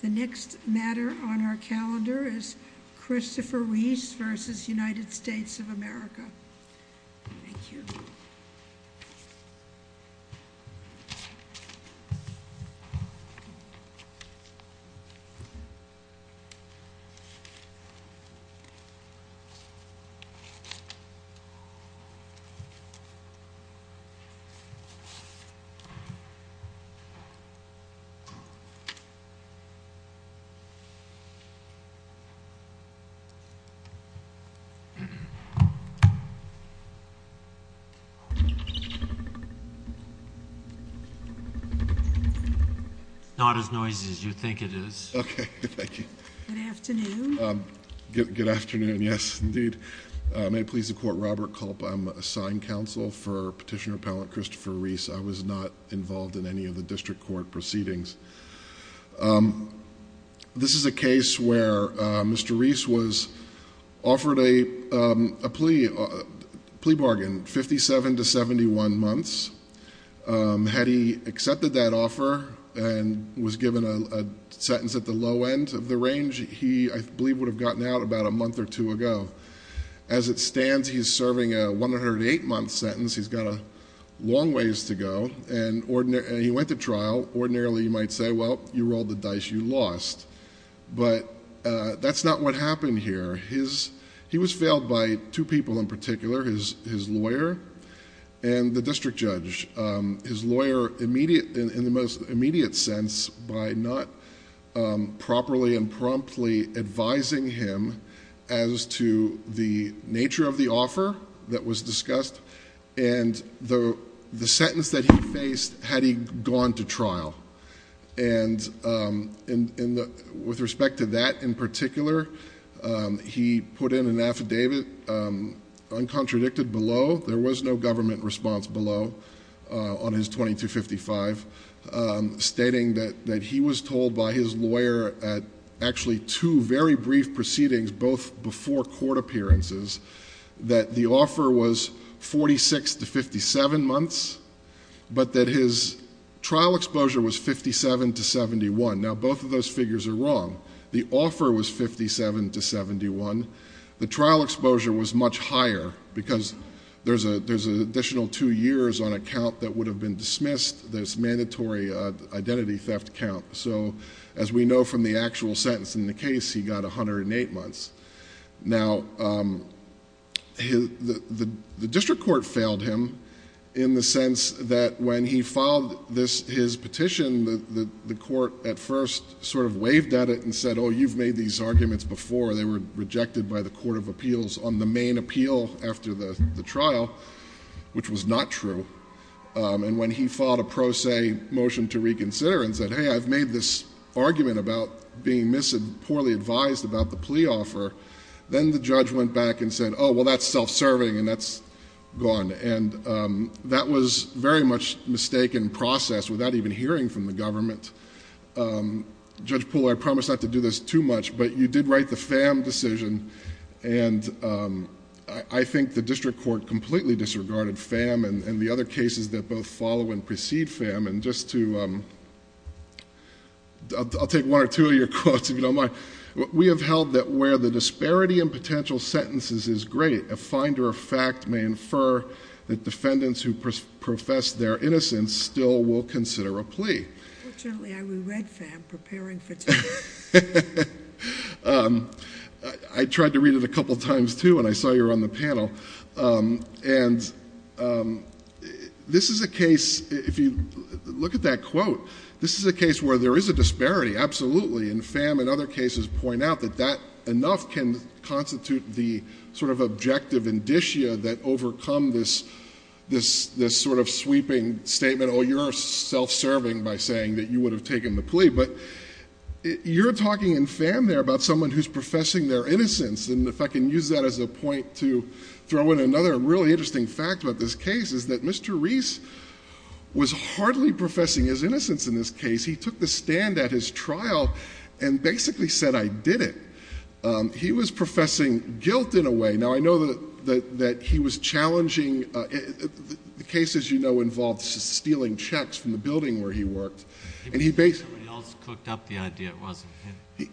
The next matter on our calendar is Christopher Reese versus United States of America. It's not as noisy as you think it is. Okay. Thank you. Good afternoon. Good afternoon. Yes. Indeed. May it please the court. Robert Culp. I'm assigned counsel for Petitioner Appellant Christopher Reese. I was not involved in any of the district court proceedings. This is a case where Mr. Reese was offered a plea bargain, 57 to 71 months. Had he accepted that offer and was given a sentence at the low end of the range, he, I believe, would have gotten out about a month or two ago. As it stands, he's serving a 108-month sentence. He's got a long ways to go. He went to trial. Ordinarily, you might say, well, you rolled the dice, you lost. That's not what happened here. He was failed by two people in particular, his lawyer and the district judge. His lawyer, in the most immediate sense, by not properly and promptly advising him as to the nature of the offer that was discussed and the sentence that he faced had he gone to trial. With respect to that in particular, he put in an affidavit uncontradicted below. There was no government response below on his 2255 stating that he was told by his lawyer at actually two very brief proceedings, both before court appearances, that the offer was 46 to 57 months, but that his trial exposure was 57 to 71. Now, both of those figures are wrong. The offer was 57 to 71. The trial exposure was much higher because there's an additional two years on a count that would have been dismissed, this mandatory identity theft count. As we know from the actual sentence in the case, he got 108 months. The district court failed him in the sense that when he filed his petition, the court at first sort of waved at it and said, oh, you've made these arguments before. They were rejected by the Court of Appeals on the main appeal after the trial, which was not true. When he filed a pro se motion to reconsider and said, hey, I've made this argument about being poorly advised about the plea offer, then the judge went back and said, oh, well, that's self-serving and that's gone. That was very much mistaken process without even hearing from the government. Judge Poole, I promise not to do this too much, but you did write the FAM decision. I think the district court completely disregarded FAM and the other cases that both follow and precede FAM. And just to, I'll take one or two of your quotes if you don't mind. We have held that where the disparity in potential sentences is great, a finder of fact may infer that defendants who profess their innocence still will consider a plea. Fortunately, I re-read FAM preparing for today. I tried to read it a couple of times too when I saw you were on the panel. And this is a case, if you look at that quote, this is a case where there is a disparity, absolutely. And FAM and other cases point out that that enough can constitute the sort of objective indicia that overcome this sort of sweeping statement, you're self-serving by saying that you would have taken the plea. But you're talking in FAM there about someone who's professing their innocence. And if I can use that as a point to throw in another really interesting fact about this case, is that Mr. Reese was hardly professing his innocence in this case. He took the stand at his trial and basically said I did it. He was professing guilt in a way. Now I know that he was challenging, the case as you know involves stealing checks from the building where he worked. And he basically- Somebody else cooked up the idea, it wasn't him.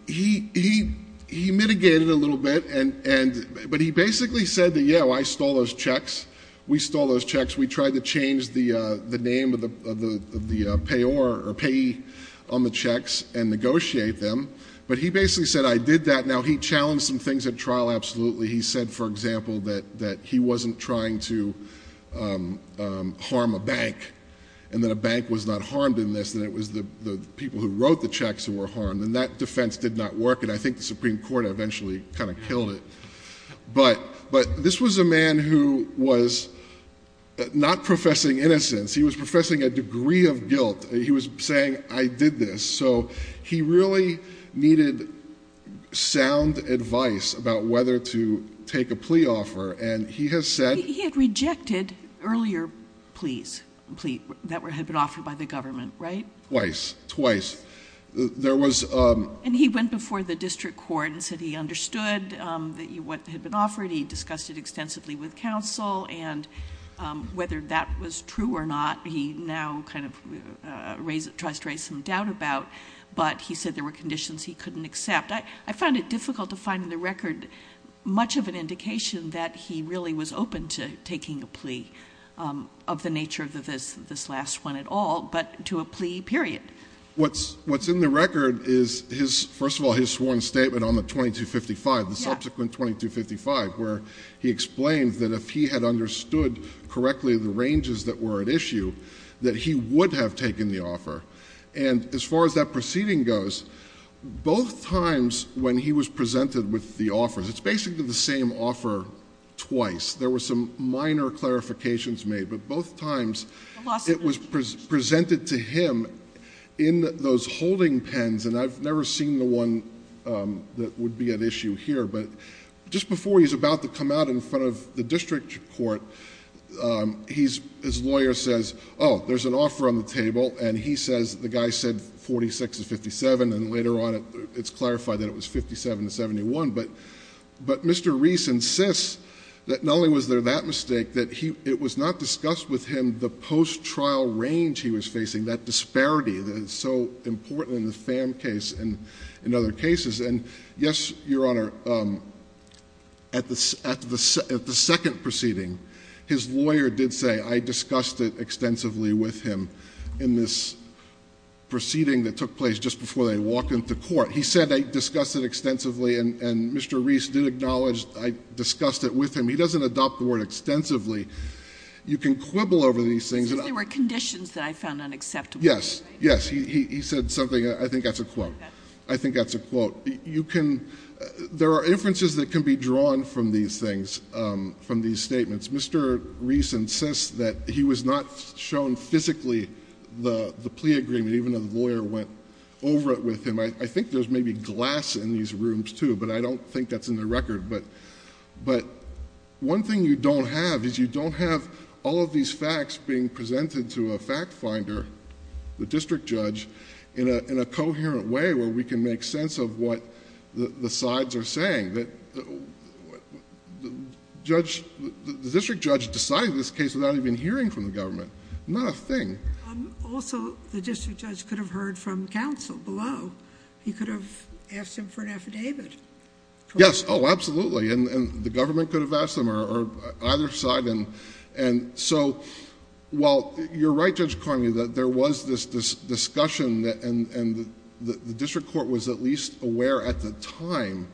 He mitigated a little bit, but he basically said that yeah, I stole those checks. We stole those checks. We tried to change the name of the payee on the checks and negotiate them. But he basically said I did that. Now he challenged some things at trial, absolutely. He said, for example, that he wasn't trying to harm a bank. And that a bank was not harmed in this, that it was the people who wrote the checks who were harmed. And that defense did not work, and I think the Supreme Court eventually kind of killed it. But this was a man who was not professing innocence. He was professing a degree of guilt. He was saying I did this. So he really needed sound advice about whether to take a plea offer. And he has said- He had rejected earlier pleas, that had been offered by the government, right? Twice, twice. There was- And he went before the district court and said he understood what had been offered. He discussed it extensively with counsel. And whether that was true or not, he now kind of tries to raise some doubt about. But he said there were conditions he couldn't accept. I found it difficult to find in the record much of an indication that he really was open to taking a plea of the nature of this last one at all, but to a plea period. What's in the record is, first of all, his sworn statement on the 2255, the subsequent 2255, where he explained that if he had understood correctly the ranges that were at issue, that he would have taken the offer. And as far as that proceeding goes, both times when he was presented with the offers, it's basically the same offer twice. There were some minor clarifications made. But both times, it was presented to him in those holding pens. And I've never seen the one that would be at issue here. But just before he's about to come out in front of the district court, his lawyer says, there's an offer on the table, and he says, the guy said 46 to 57, and later on, it's clarified that it was 57 to 71. But Mr. Reese insists that not only was there that mistake, that it was not discussed with him the post-trial range he was facing, that disparity that is so important in the Pham case and in other cases. And yes, Your Honor, at the second proceeding, his lawyer did say, I discussed it extensively with him in this proceeding that took place just before they walk into court. He said, I discussed it extensively, and Mr. Reese did acknowledge, I discussed it with him. He doesn't adopt the word extensively. You can quibble over these things. And I- There were conditions that I found unacceptable. Yes, yes. He said something, I think that's a quote. I think that's a quote. You can, there are inferences that can be drawn from these things, from these statements. Mr. Reese insists that he was not shown physically the plea agreement, even though the lawyer went over it with him. I think there's maybe glass in these rooms too, but I don't think that's in the record. But one thing you don't have is you don't have all of these facts being presented to a fact finder, the district judge, in a coherent way where we can make sense of what the sides are saying. The district judge decided this case without even hearing from the government, not a thing. Also, the district judge could have heard from counsel below. He could have asked him for an affidavit. Yes, absolutely, and the government could have asked them, or either side. And so, while you're right, Judge Carney, that there was this discussion, and the district court was at least aware at the time.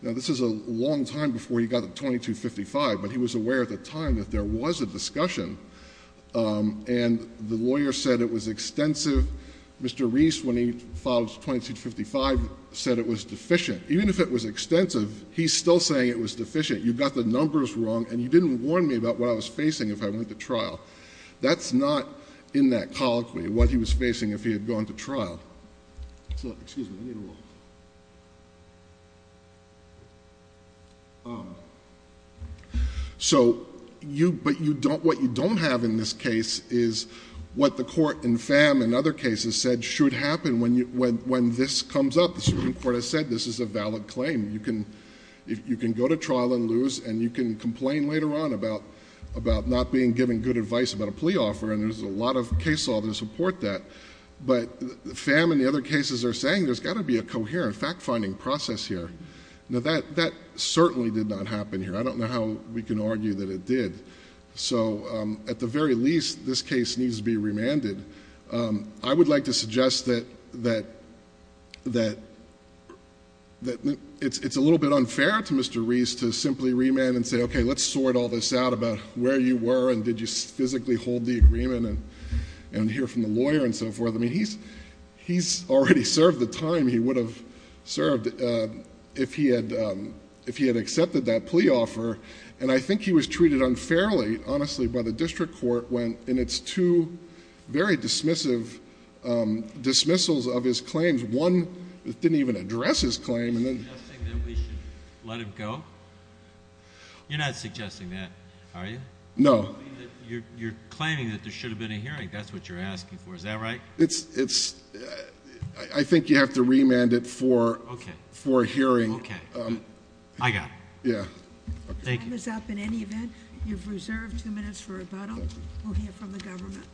Now, this is a long time before he got to 2255, but he was aware at the time that there was a discussion. And the lawyer said it was extensive. Mr. Reese, when he filed 2255, said it was deficient. Even if it was extensive, he's still saying it was deficient. You got the numbers wrong, and you didn't warn me about what I was facing if I went to trial. That's not in that colloquy, what he was facing if he had gone to trial. So, excuse me, I need a little. So, but what you don't have in this case is what the court and FAM in other cases said should happen when this comes up, the Supreme Court has said this is a valid claim. You can go to trial and lose, and you can complain later on about not being given good advice about a plea offer. And there's a lot of case law to support that. But FAM and the other cases are saying there's got to be a coherent fact finding process here. Now, that certainly did not happen here. I don't know how we can argue that it did. So, at the very least, this case needs to be remanded. I would like to suggest that it's a little bit unfair to Mr. Reese to simply remand and say, okay, let's sort all this out about where you were and did you physically hold the agreement and hear from the lawyer and so forth. I mean, he's already served the time he would have served if he had accepted that plea offer. And I think he was treated unfairly, honestly, by the district court when in its two very dismissive dismissals of his claims. One, it didn't even address his claim and then- Suggesting that we should let him go? You're not suggesting that, are you? No. You're claiming that there should have been a hearing. That's what you're asking for, is that right? It's, I think you have to remand it for a hearing. Okay, I got it. Yeah. Time is up in any event. You've reserved two minutes for rebuttal. We'll hear from the government.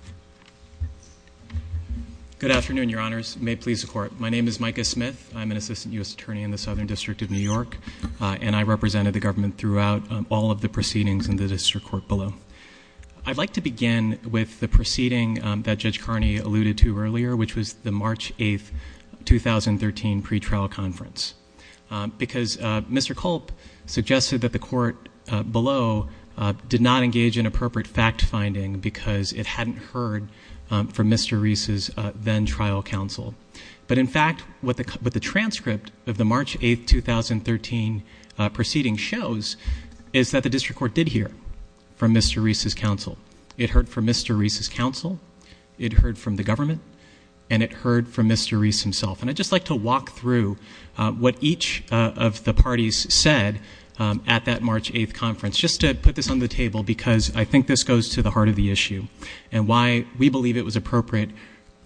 Good afternoon, your honors. May it please the court. My name is Micah Smith. I'm an assistant U.S. attorney in the Southern District of New York and I represented the government throughout all of the proceedings in the district court below. I'd like to begin with the proceeding that Judge Carney alluded to earlier, which was the March 8th, 2013 pretrial conference. Because Mr. Culp suggested that the court below did not engage in appropriate fact finding because it hadn't heard from Mr. Reese's then trial counsel. But in fact, what the transcript of the March 8th, 2013 proceeding shows is that the district court did hear from Mr. Reese's counsel. It heard from Mr. Reese's counsel. It heard from the government. And it heard from Mr. Reese himself. And I'd just like to walk through what each of the parties said at that March 8th conference. Just to put this on the table because I think this goes to the heart of the issue. And why we believe it was appropriate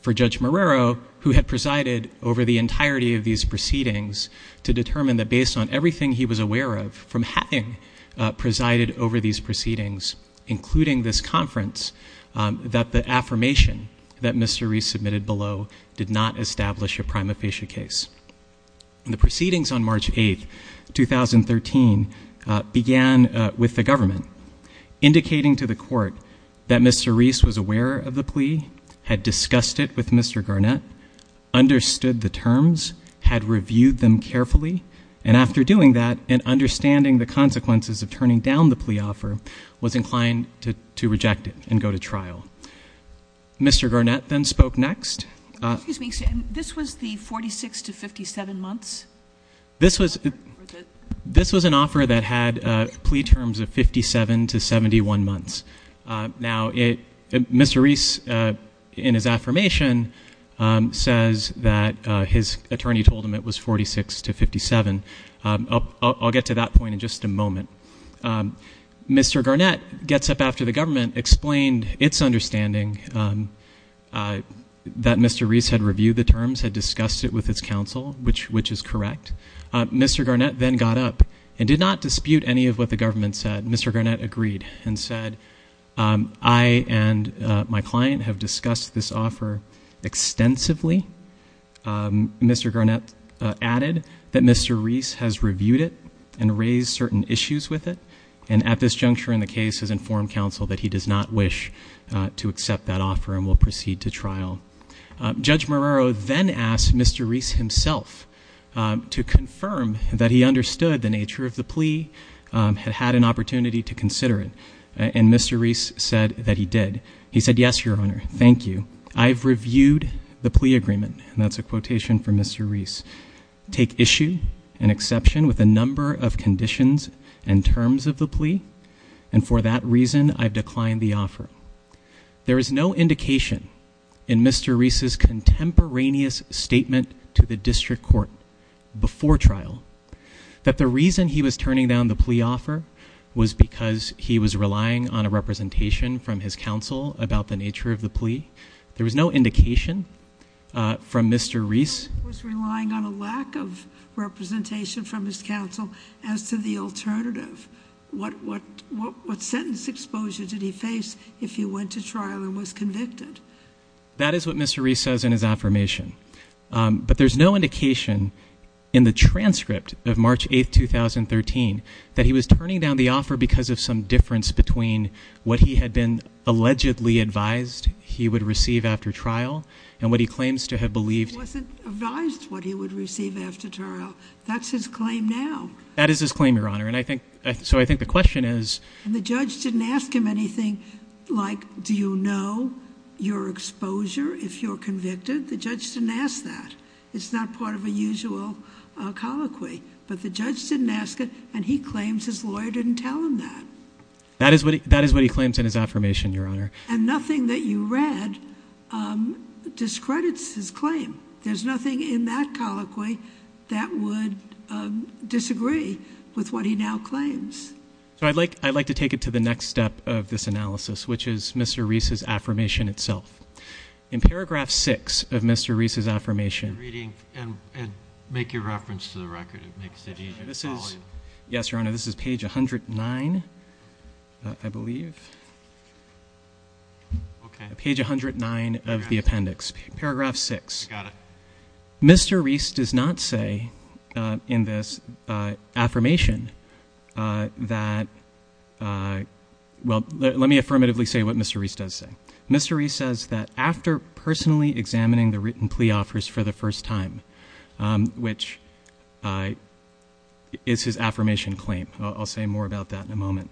for Judge Marrero, who had presided over the entirety of these proceedings, to determine that based on everything he was aware of from having presided over these proceedings, including this conference, that the affirmation that Mr. Reese was aware of the plea, had discussed it with Mr. Garnett, understood the terms, had reviewed them carefully, and after doing that and understanding the consequences of turning down the plea offer, was inclined to reject it and go to trial. Mr. Garnett then spoke next. Excuse me, this was the 46 to 57 months? This was an offer that had plea terms of 57 to 71 months. Now, Mr. Reese, in his affirmation, says that his attorney told him it was 46 to 57. I'll get to that point in just a moment. Mr. Garnett gets up after the government, explained its understanding that Mr. Reese had reviewed the terms, had discussed it with his counsel, which is correct. Mr. Garnett then got up and did not dispute any of what the government said. Mr. Garnett agreed and said, I and my client have discussed this offer extensively. Mr. Garnett added that Mr. Reese has reviewed it and raised certain issues with it. And at this juncture in the case has informed counsel that he does not wish to accept that offer and will proceed to trial. Judge Marrero then asked Mr. Reese himself to confirm that he understood the nature of the plea, had had an opportunity to consider it, and Mr. Reese said that he did. He said, yes, your honor, thank you. I've reviewed the plea agreement, and that's a quotation from Mr. Reese. Take issue and exception with a number of conditions and terms of the plea. And for that reason, I've declined the offer. There is no indication in Mr. Reese's contemporaneous statement to the district court before trial that the reason he was turning down the plea offer was because he was relying on a representation from his counsel about the nature of the plea. There was no indication from Mr. Reese. Was relying on a lack of representation from his counsel as to the alternative. What sentence exposure did he face if he went to trial and was convicted? That is what Mr. Reese says in his affirmation. But there's no indication in the transcript of March 8th, 2013 that he was turning down the offer because of some difference between what he had been allegedly advised he would receive after trial and what he claims to have believed. It wasn't advised what he would receive after trial. That's his claim now. That is his claim, your honor. And I think, so I think the question is. And the judge didn't ask him anything like, do you know your exposure if you're convicted? The judge didn't ask that. It's not part of a usual colloquy. But the judge didn't ask it, and he claims his lawyer didn't tell him that. That is what he claims in his affirmation, your honor. And nothing that you read discredits his claim. There's nothing in that colloquy that would disagree with what he now claims. So I'd like to take it to the next step of this analysis, which is Mr. Reese's affirmation itself. In paragraph six of Mr. Reese's affirmation. Reading and make your reference to the record, it makes it easier to follow you. Yes, your honor, this is page 109, I believe. Okay. Page 109 of the appendix. Paragraph six. I got it. Mr. Reese does not say in this affirmation that, well, let me affirmatively say what Mr. Reese does say. Mr. Reese says that after personally examining the written plea offers for the first time, which is his affirmation claim, I'll say more about that in a moment.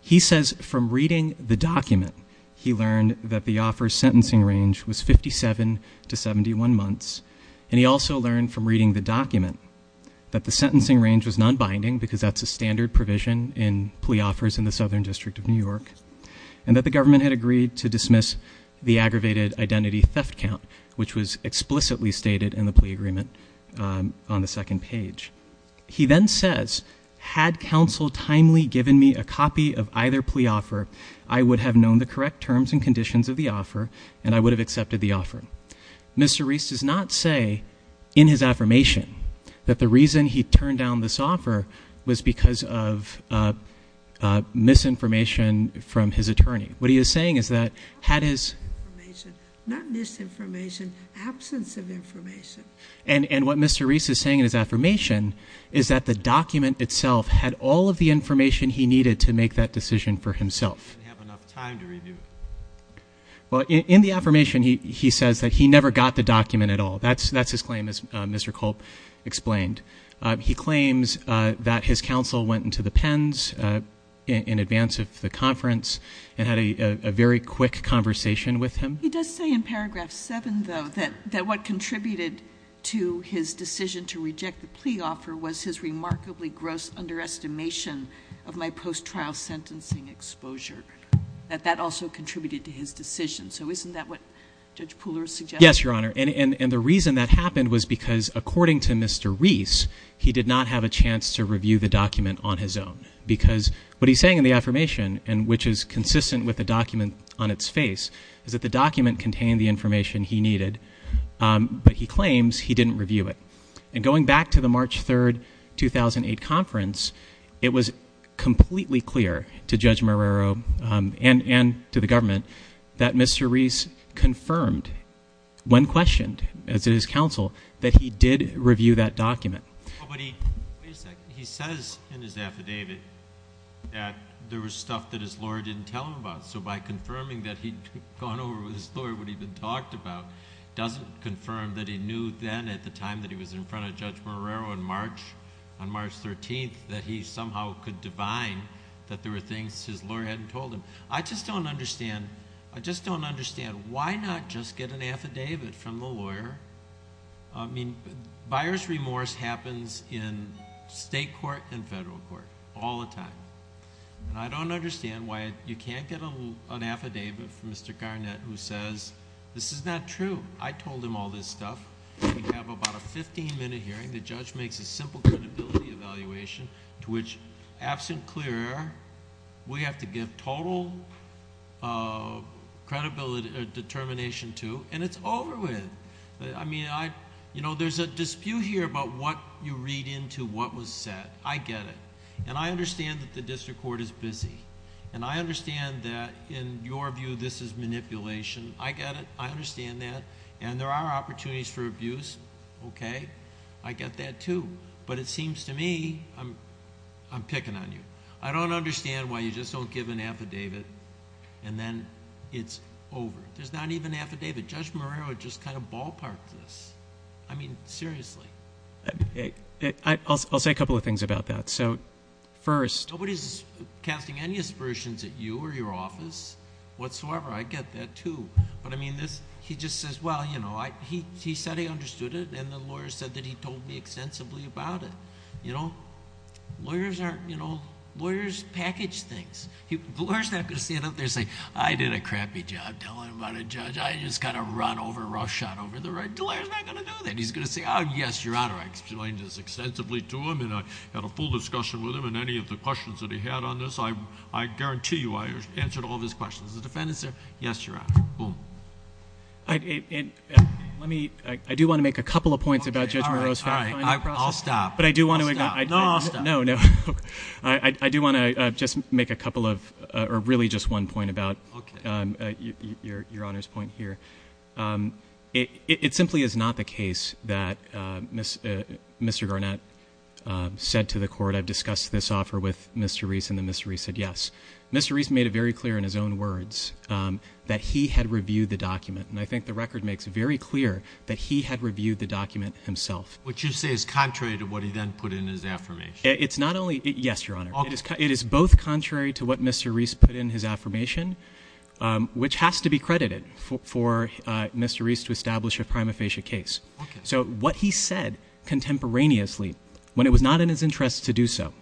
He says from reading the document, he learned that the offer's sentencing range was 57 to 71 months. And he also learned from reading the document that the sentencing range was non-binding, because that's a standard provision in plea offers in the Southern District of New York. And that the government had agreed to dismiss the aggravated identity theft count, which was explicitly stated in the plea agreement on the second page. He then says, had counsel timely given me a copy of either plea offer, I would have known the correct terms and conditions of the offer, and I would have accepted the offer. Mr. Reese does not say in his affirmation that the reason he turned down this offer was because of misinformation from his attorney. What he is saying is that had his- Information, not misinformation, absence of information. And what Mr. Reese is saying in his affirmation is that the document itself had all of the information he needed to make that decision for himself. Did he have enough time to review it? Well, in the affirmation, he says that he never got the document at all. That's his claim, as Mr. Culp explained. He claims that his counsel went into the pens in advance of the conference and had a very quick conversation with him. He does say in paragraph seven, though, that what contributed to his decision to reject the plea offer was his remarkably gross underestimation of my post-trial sentencing exposure. That that also contributed to his decision. So isn't that what Judge Pooler is suggesting? Yes, Your Honor, and the reason that happened was because according to Mr. Reese, he did not have a chance to review the document on his own. Because what he's saying in the affirmation, and which is consistent with the document on its face, is that the document contained the information he needed, but he claims he didn't review it. And going back to the March 3rd, 2008 conference, it was completely clear to Judge Marrero and to the government that Mr. Reese confirmed, when questioned as his counsel, that he did review that document. But he, wait a second, he says in his affidavit that there was stuff that his lawyer didn't tell him about. So by confirming that he'd gone over with his lawyer what he'd been talked about, doesn't confirm that he knew then, at the time that he was in front of Judge Marrero on March 13th, that he somehow could divine that there were things his lawyer hadn't told him. I just don't understand, I just don't understand why not just get an affidavit from the lawyer? I mean, buyer's remorse happens in state court and federal court all the time. And I don't understand why you can't get an affidavit from Mr. Garnett who says, this is not true. I told him all this stuff. We have about a 15 minute hearing. The judge makes a simple credibility evaluation to which, absent clear air, we have to give total determination to, and it's over with. I mean, there's a dispute here about what you read into what was said. I get it. And I understand that the district court is busy. And I understand that, in your view, this is manipulation. I get it. I understand that. And there are opportunities for abuse, okay? I get that too. But it seems to me, I'm picking on you. I don't understand why you just don't give an affidavit, and then it's over. There's not even an affidavit. Judge Marrero just kind of ballparked this. I mean, seriously. I'll say a couple of things about that. So, first... Nobody's casting any aspersions at you or your office whatsoever. I get that too. But, I mean, he just says, well, you know, he said he understood it, and the lawyer said that he told me extensively about it. You know, lawyers package things. The lawyer's not going to stand up there and say, I did a crappy job telling about a judge, I just kind of run over, rough shot over the red. The lawyer's not going to do that. He's going to say, oh, yes, Your Honor, I explained this extensively to him, and I had a full discussion with him, and any of the questions that he had on this, I guarantee you, I answered all of his questions. The defendant said, yes, Your Honor. Boom. Let me... I do want to make a couple of points about Judge Marrero's... Okay, all right, all right, I'll stop. But I do want to... I'll stop. No, I'll stop. No, no. I do want to just make a couple of, or really just one point about... Okay.... your Honor's point here. It simply is not the case that Mr. Garnett said to the court, I've discussed this offer with Mr. Reese, and then Mr. Reese said yes. Mr. Reese made it very clear in his own words that he had reviewed the document, and I think the record makes it very clear that he had reviewed the document himself. What you say is contrary to what he then put in his affirmation. It's not only... Yes, Your Honor. Okay. It is both contrary to what Mr. Reese put in his affirmation, which has to be credited for Mr. Reese to establish a prima facie case. Okay. So what he said contemporaneously, when it was not in his interest to do so,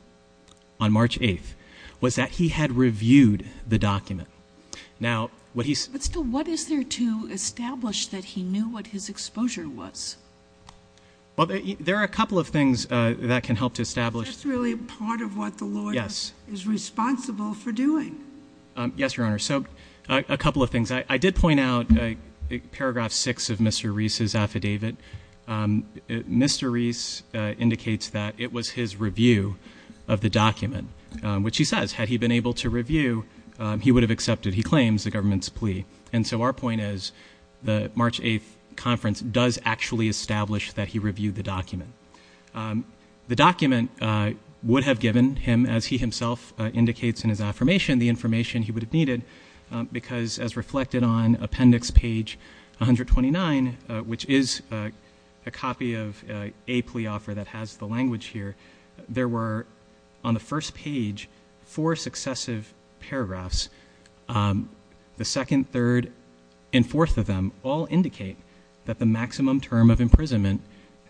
on March 8th, was that he had reviewed the document. Now, what he... But still, what is there to establish that he knew what his exposure was? Well, there are a couple of things that can help to establish... Is this really part of what the lawyer... Yes.... is responsible for doing? Yes, Your Honor. So, a couple of things. I did point out paragraph 6 of Mr. Reese's affidavit. Mr. Reese indicates that it was his review of the document, which he says, had he been able to review, he would have accepted, he claims, the government's plea. And so our point is, the March 8th conference does actually establish that he reviewed the document. The document would have given him, as he himself indicates in his affirmation, the information he would have needed, because as reflected on appendix page 129, which is a copy of a plea offer that has the language here, there were, on the first page, four successive paragraphs. The second, third, and fourth of them all indicate that the maximum term of imprisonment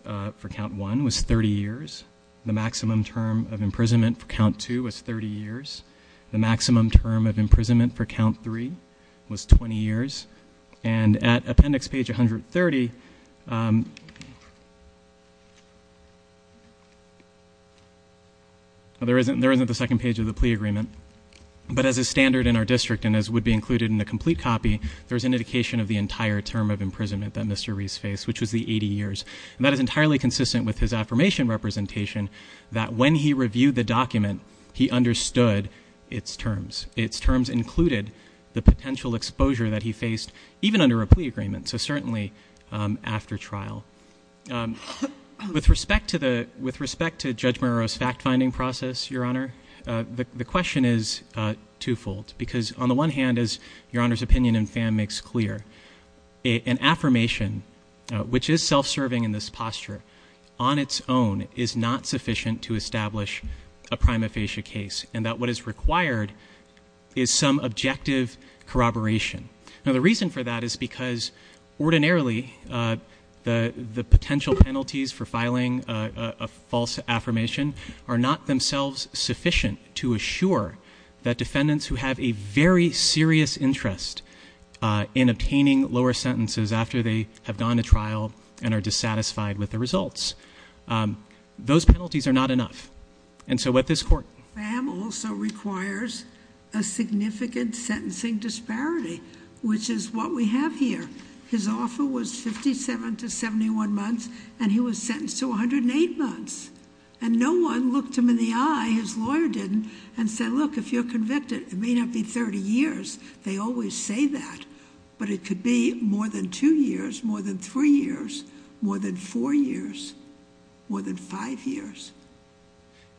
for count one was 30 years. The maximum term of imprisonment for count two was 30 years. The maximum term of imprisonment for count three was 20 years. And at appendix page 130, there isn't the second page of the plea agreement. But as a standard in our district, and as would be included in the complete copy, there's an indication of the entire term of imprisonment that Mr. Reese faced, which was the 80 years. And that is entirely consistent with his affirmation representation, that when he reviewed the document, he understood its terms, its terms included the potential exposure that he faced, even under a plea agreement, so certainly after trial. With respect to Judge Murrow's fact-finding process, Your Honor, the question is twofold, because on the one hand, as Your Honor's opinion and fan makes clear, an affirmation, which is self-serving in this posture, on its own is not sufficient to establish a prima facie case, and that what is required is some objective corroboration. Now the reason for that is because ordinarily the potential penalties for filing a false affirmation are not themselves sufficient to assure that defendants who have a very serious interest in obtaining lower sentences after they have gone to trial and are dissatisfied with the results. Those penalties are not enough. And so what this court- Bam also requires a significant sentencing disparity, which is what we have here. His offer was 57 to 71 months, and he was sentenced to 108 months. And no one looked him in the eye, his lawyer didn't, and said, look, if you're convicted, it may not be 30 years. They always say that, but it could be more than two years, more than three years, more than four years, more than five years.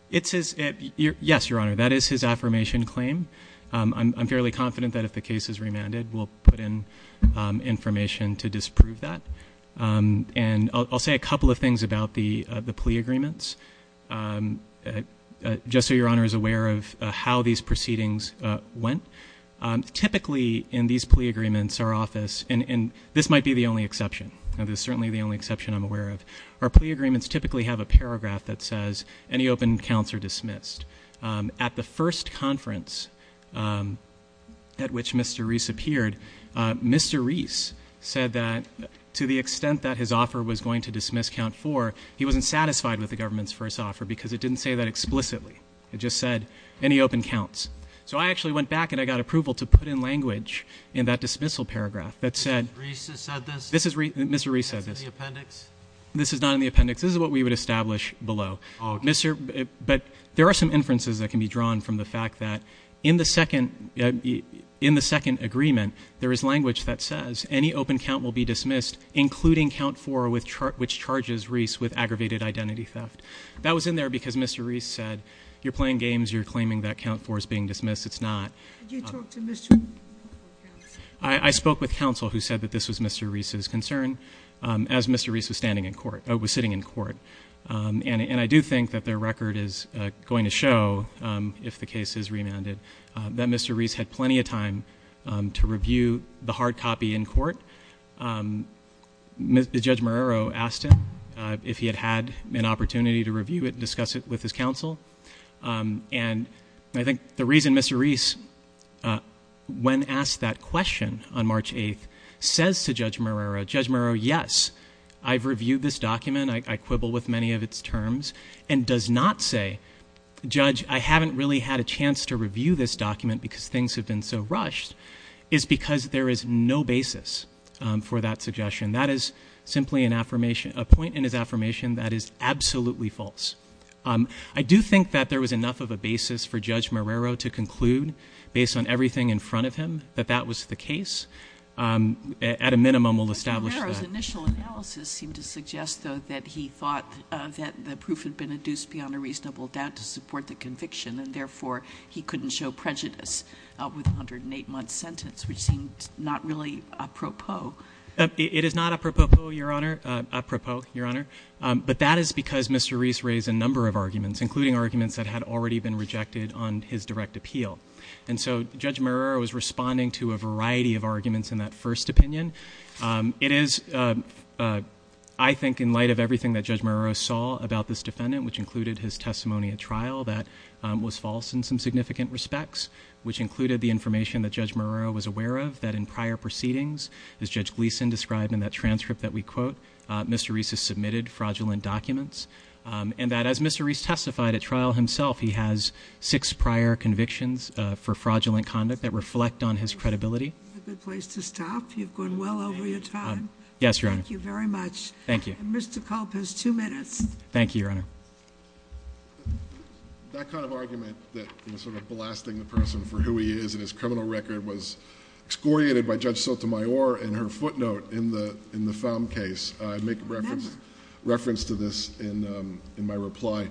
It says, yes, Your Honor, that is his affirmation claim. I'm fairly confident that if the case is remanded, we'll put in information to disprove that. And I'll say a couple of things about the plea agreements, just so Your Honor is aware of how these proceedings went. Typically, in these plea agreements, our office, and this might be the only exception, and it's certainly the only exception I'm aware of. Our plea agreements typically have a paragraph that says, any open counts are dismissed. At the first conference at which Mr. Reese appeared, Mr. Reese said that to the extent that his offer was going to dismiss count four, he wasn't satisfied with the government's first offer because it didn't say that explicitly. It just said, any open counts. So I actually went back and I got approval to put in language in that dismissal paragraph that said- Mr. Reese said this? This is, Mr. Reese said this. Is this in the appendix? This is not in the appendix. This is what we would establish below. But there are some inferences that can be drawn from the fact that in the second agreement, there is language that says, any open count will be dismissed, including count four, which charges Reese with aggravated identity theft. That was in there because Mr. Reese said, you're playing games, you're claiming that count four is being dismissed, it's not. Did you talk to Mr. I spoke with counsel who said that this was Mr. Reese's concern as Mr. Reese was sitting in court. And I do think that their record is going to show, if the case is remanded, that Mr. Reese had plenty of time to review the hard copy in court. Judge Marrero asked him if he had had an opportunity to review it and discuss it with his counsel. And I think the reason Mr. Reese, when asked that question on March 8th, says to Judge Marrero, Judge Marrero, yes, I've reviewed this document. I quibble with many of its terms. And does not say, Judge, I haven't really had a chance to review this document because things have been so for that suggestion, that is simply a point in his affirmation that is absolutely false. I do think that there was enough of a basis for Judge Marrero to conclude, based on everything in front of him, that that was the case. At a minimum, we'll establish that. Judge Marrero's initial analysis seemed to suggest, though, that he thought that the proof had been induced beyond a reasonable doubt to support the conviction. And therefore, he couldn't show prejudice with a 108-month sentence, which seemed not really apropos. It is not apropos, Your Honor, apropos, Your Honor. But that is because Mr. Reese raised a number of arguments, including arguments that had already been rejected on his direct appeal. And so, Judge Marrero was responding to a variety of arguments in that first opinion. It is, I think, in light of everything that Judge Marrero saw about this defendant, which included his testimony at trial that was false in some significant respects. Which included the information that Judge Marrero was aware of, that in prior proceedings, as Judge Gleason described in that transcript that we quote, Mr. Reese has submitted fraudulent documents. And that as Mr. Reese testified at trial himself, he has six prior convictions for fraudulent conduct that reflect on his credibility. A good place to stop, you've gone well over your time. Yes, Your Honor. Thank you very much. Thank you. Mr. Culp has two minutes. Thank you, Your Honor. That kind of argument that sort of blasting the person for who he is and his criminal record was excoriated by Judge Sotomayor in her footnote in the found case. I make reference to this in my reply.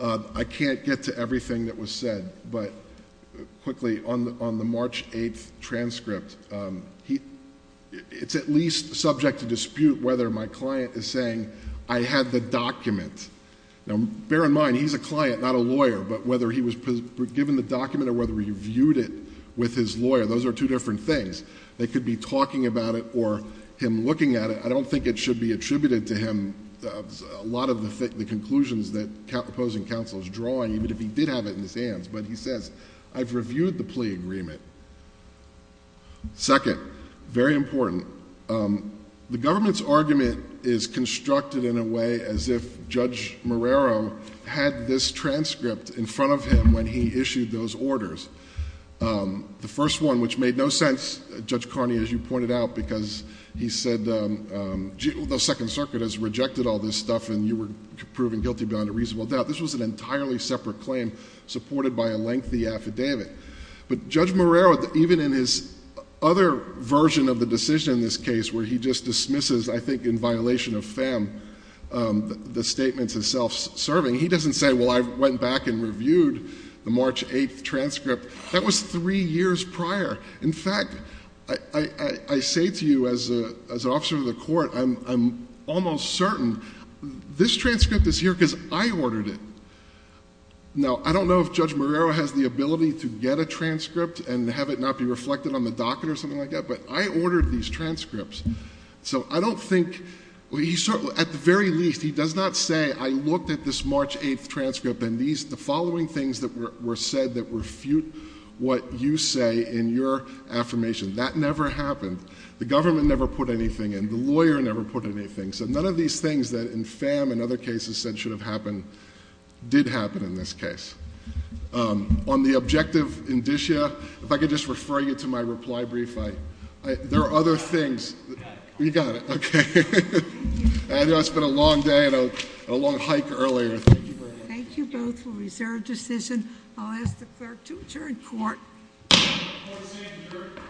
I can't get to everything that was said, but quickly, on the March 8th transcript, it's at least subject to dispute whether my client is saying I had the document. Now, bear in mind, he's a client, not a lawyer. But whether he was given the document or whether he viewed it with his lawyer, those are two different things. They could be talking about it or him looking at it. I don't think it should be attributed to him, a lot of the conclusions that opposing counsel is drawing, even if he did have it in his hands. But he says, I've reviewed the plea agreement. Second, very important. The government's argument is constructed in a way as if Judge Marrero had this transcript in front of him when he issued those orders. The first one, which made no sense, Judge Carney, as you pointed out, because he said, the Second Circuit has rejected all this stuff and you were proven guilty beyond a reasonable doubt. This was an entirely separate claim supported by a lengthy affidavit. But Judge Marrero, even in his other version of the decision in this case, where he just dismisses, I think in violation of FAM, the statements of self-serving. He doesn't say, well, I went back and reviewed the March 8th transcript. That was three years prior. In fact, I say to you as an officer of the court, I'm almost certain this transcript is here because I ordered it. Now, I don't know if Judge Marrero has the ability to get a transcript and have it not be reflected on the docket or something like that, but I ordered these transcripts. So I don't think, at the very least, he does not say, I looked at this March 8th transcript and the following things that were said that refute what you say in your affirmation. That never happened. The government never put anything in. The lawyer never put anything. So none of these things that in FAM and other cases said should have happened, did happen in this case. On the objective indicia, if I could just refer you to my reply brief, there are other things. You got it, okay. I know it's been a long day and a long hike earlier. Thank you very much. Thank you both for a reserved decision. I'll ask the clerk to adjourn court. Court is adjourned.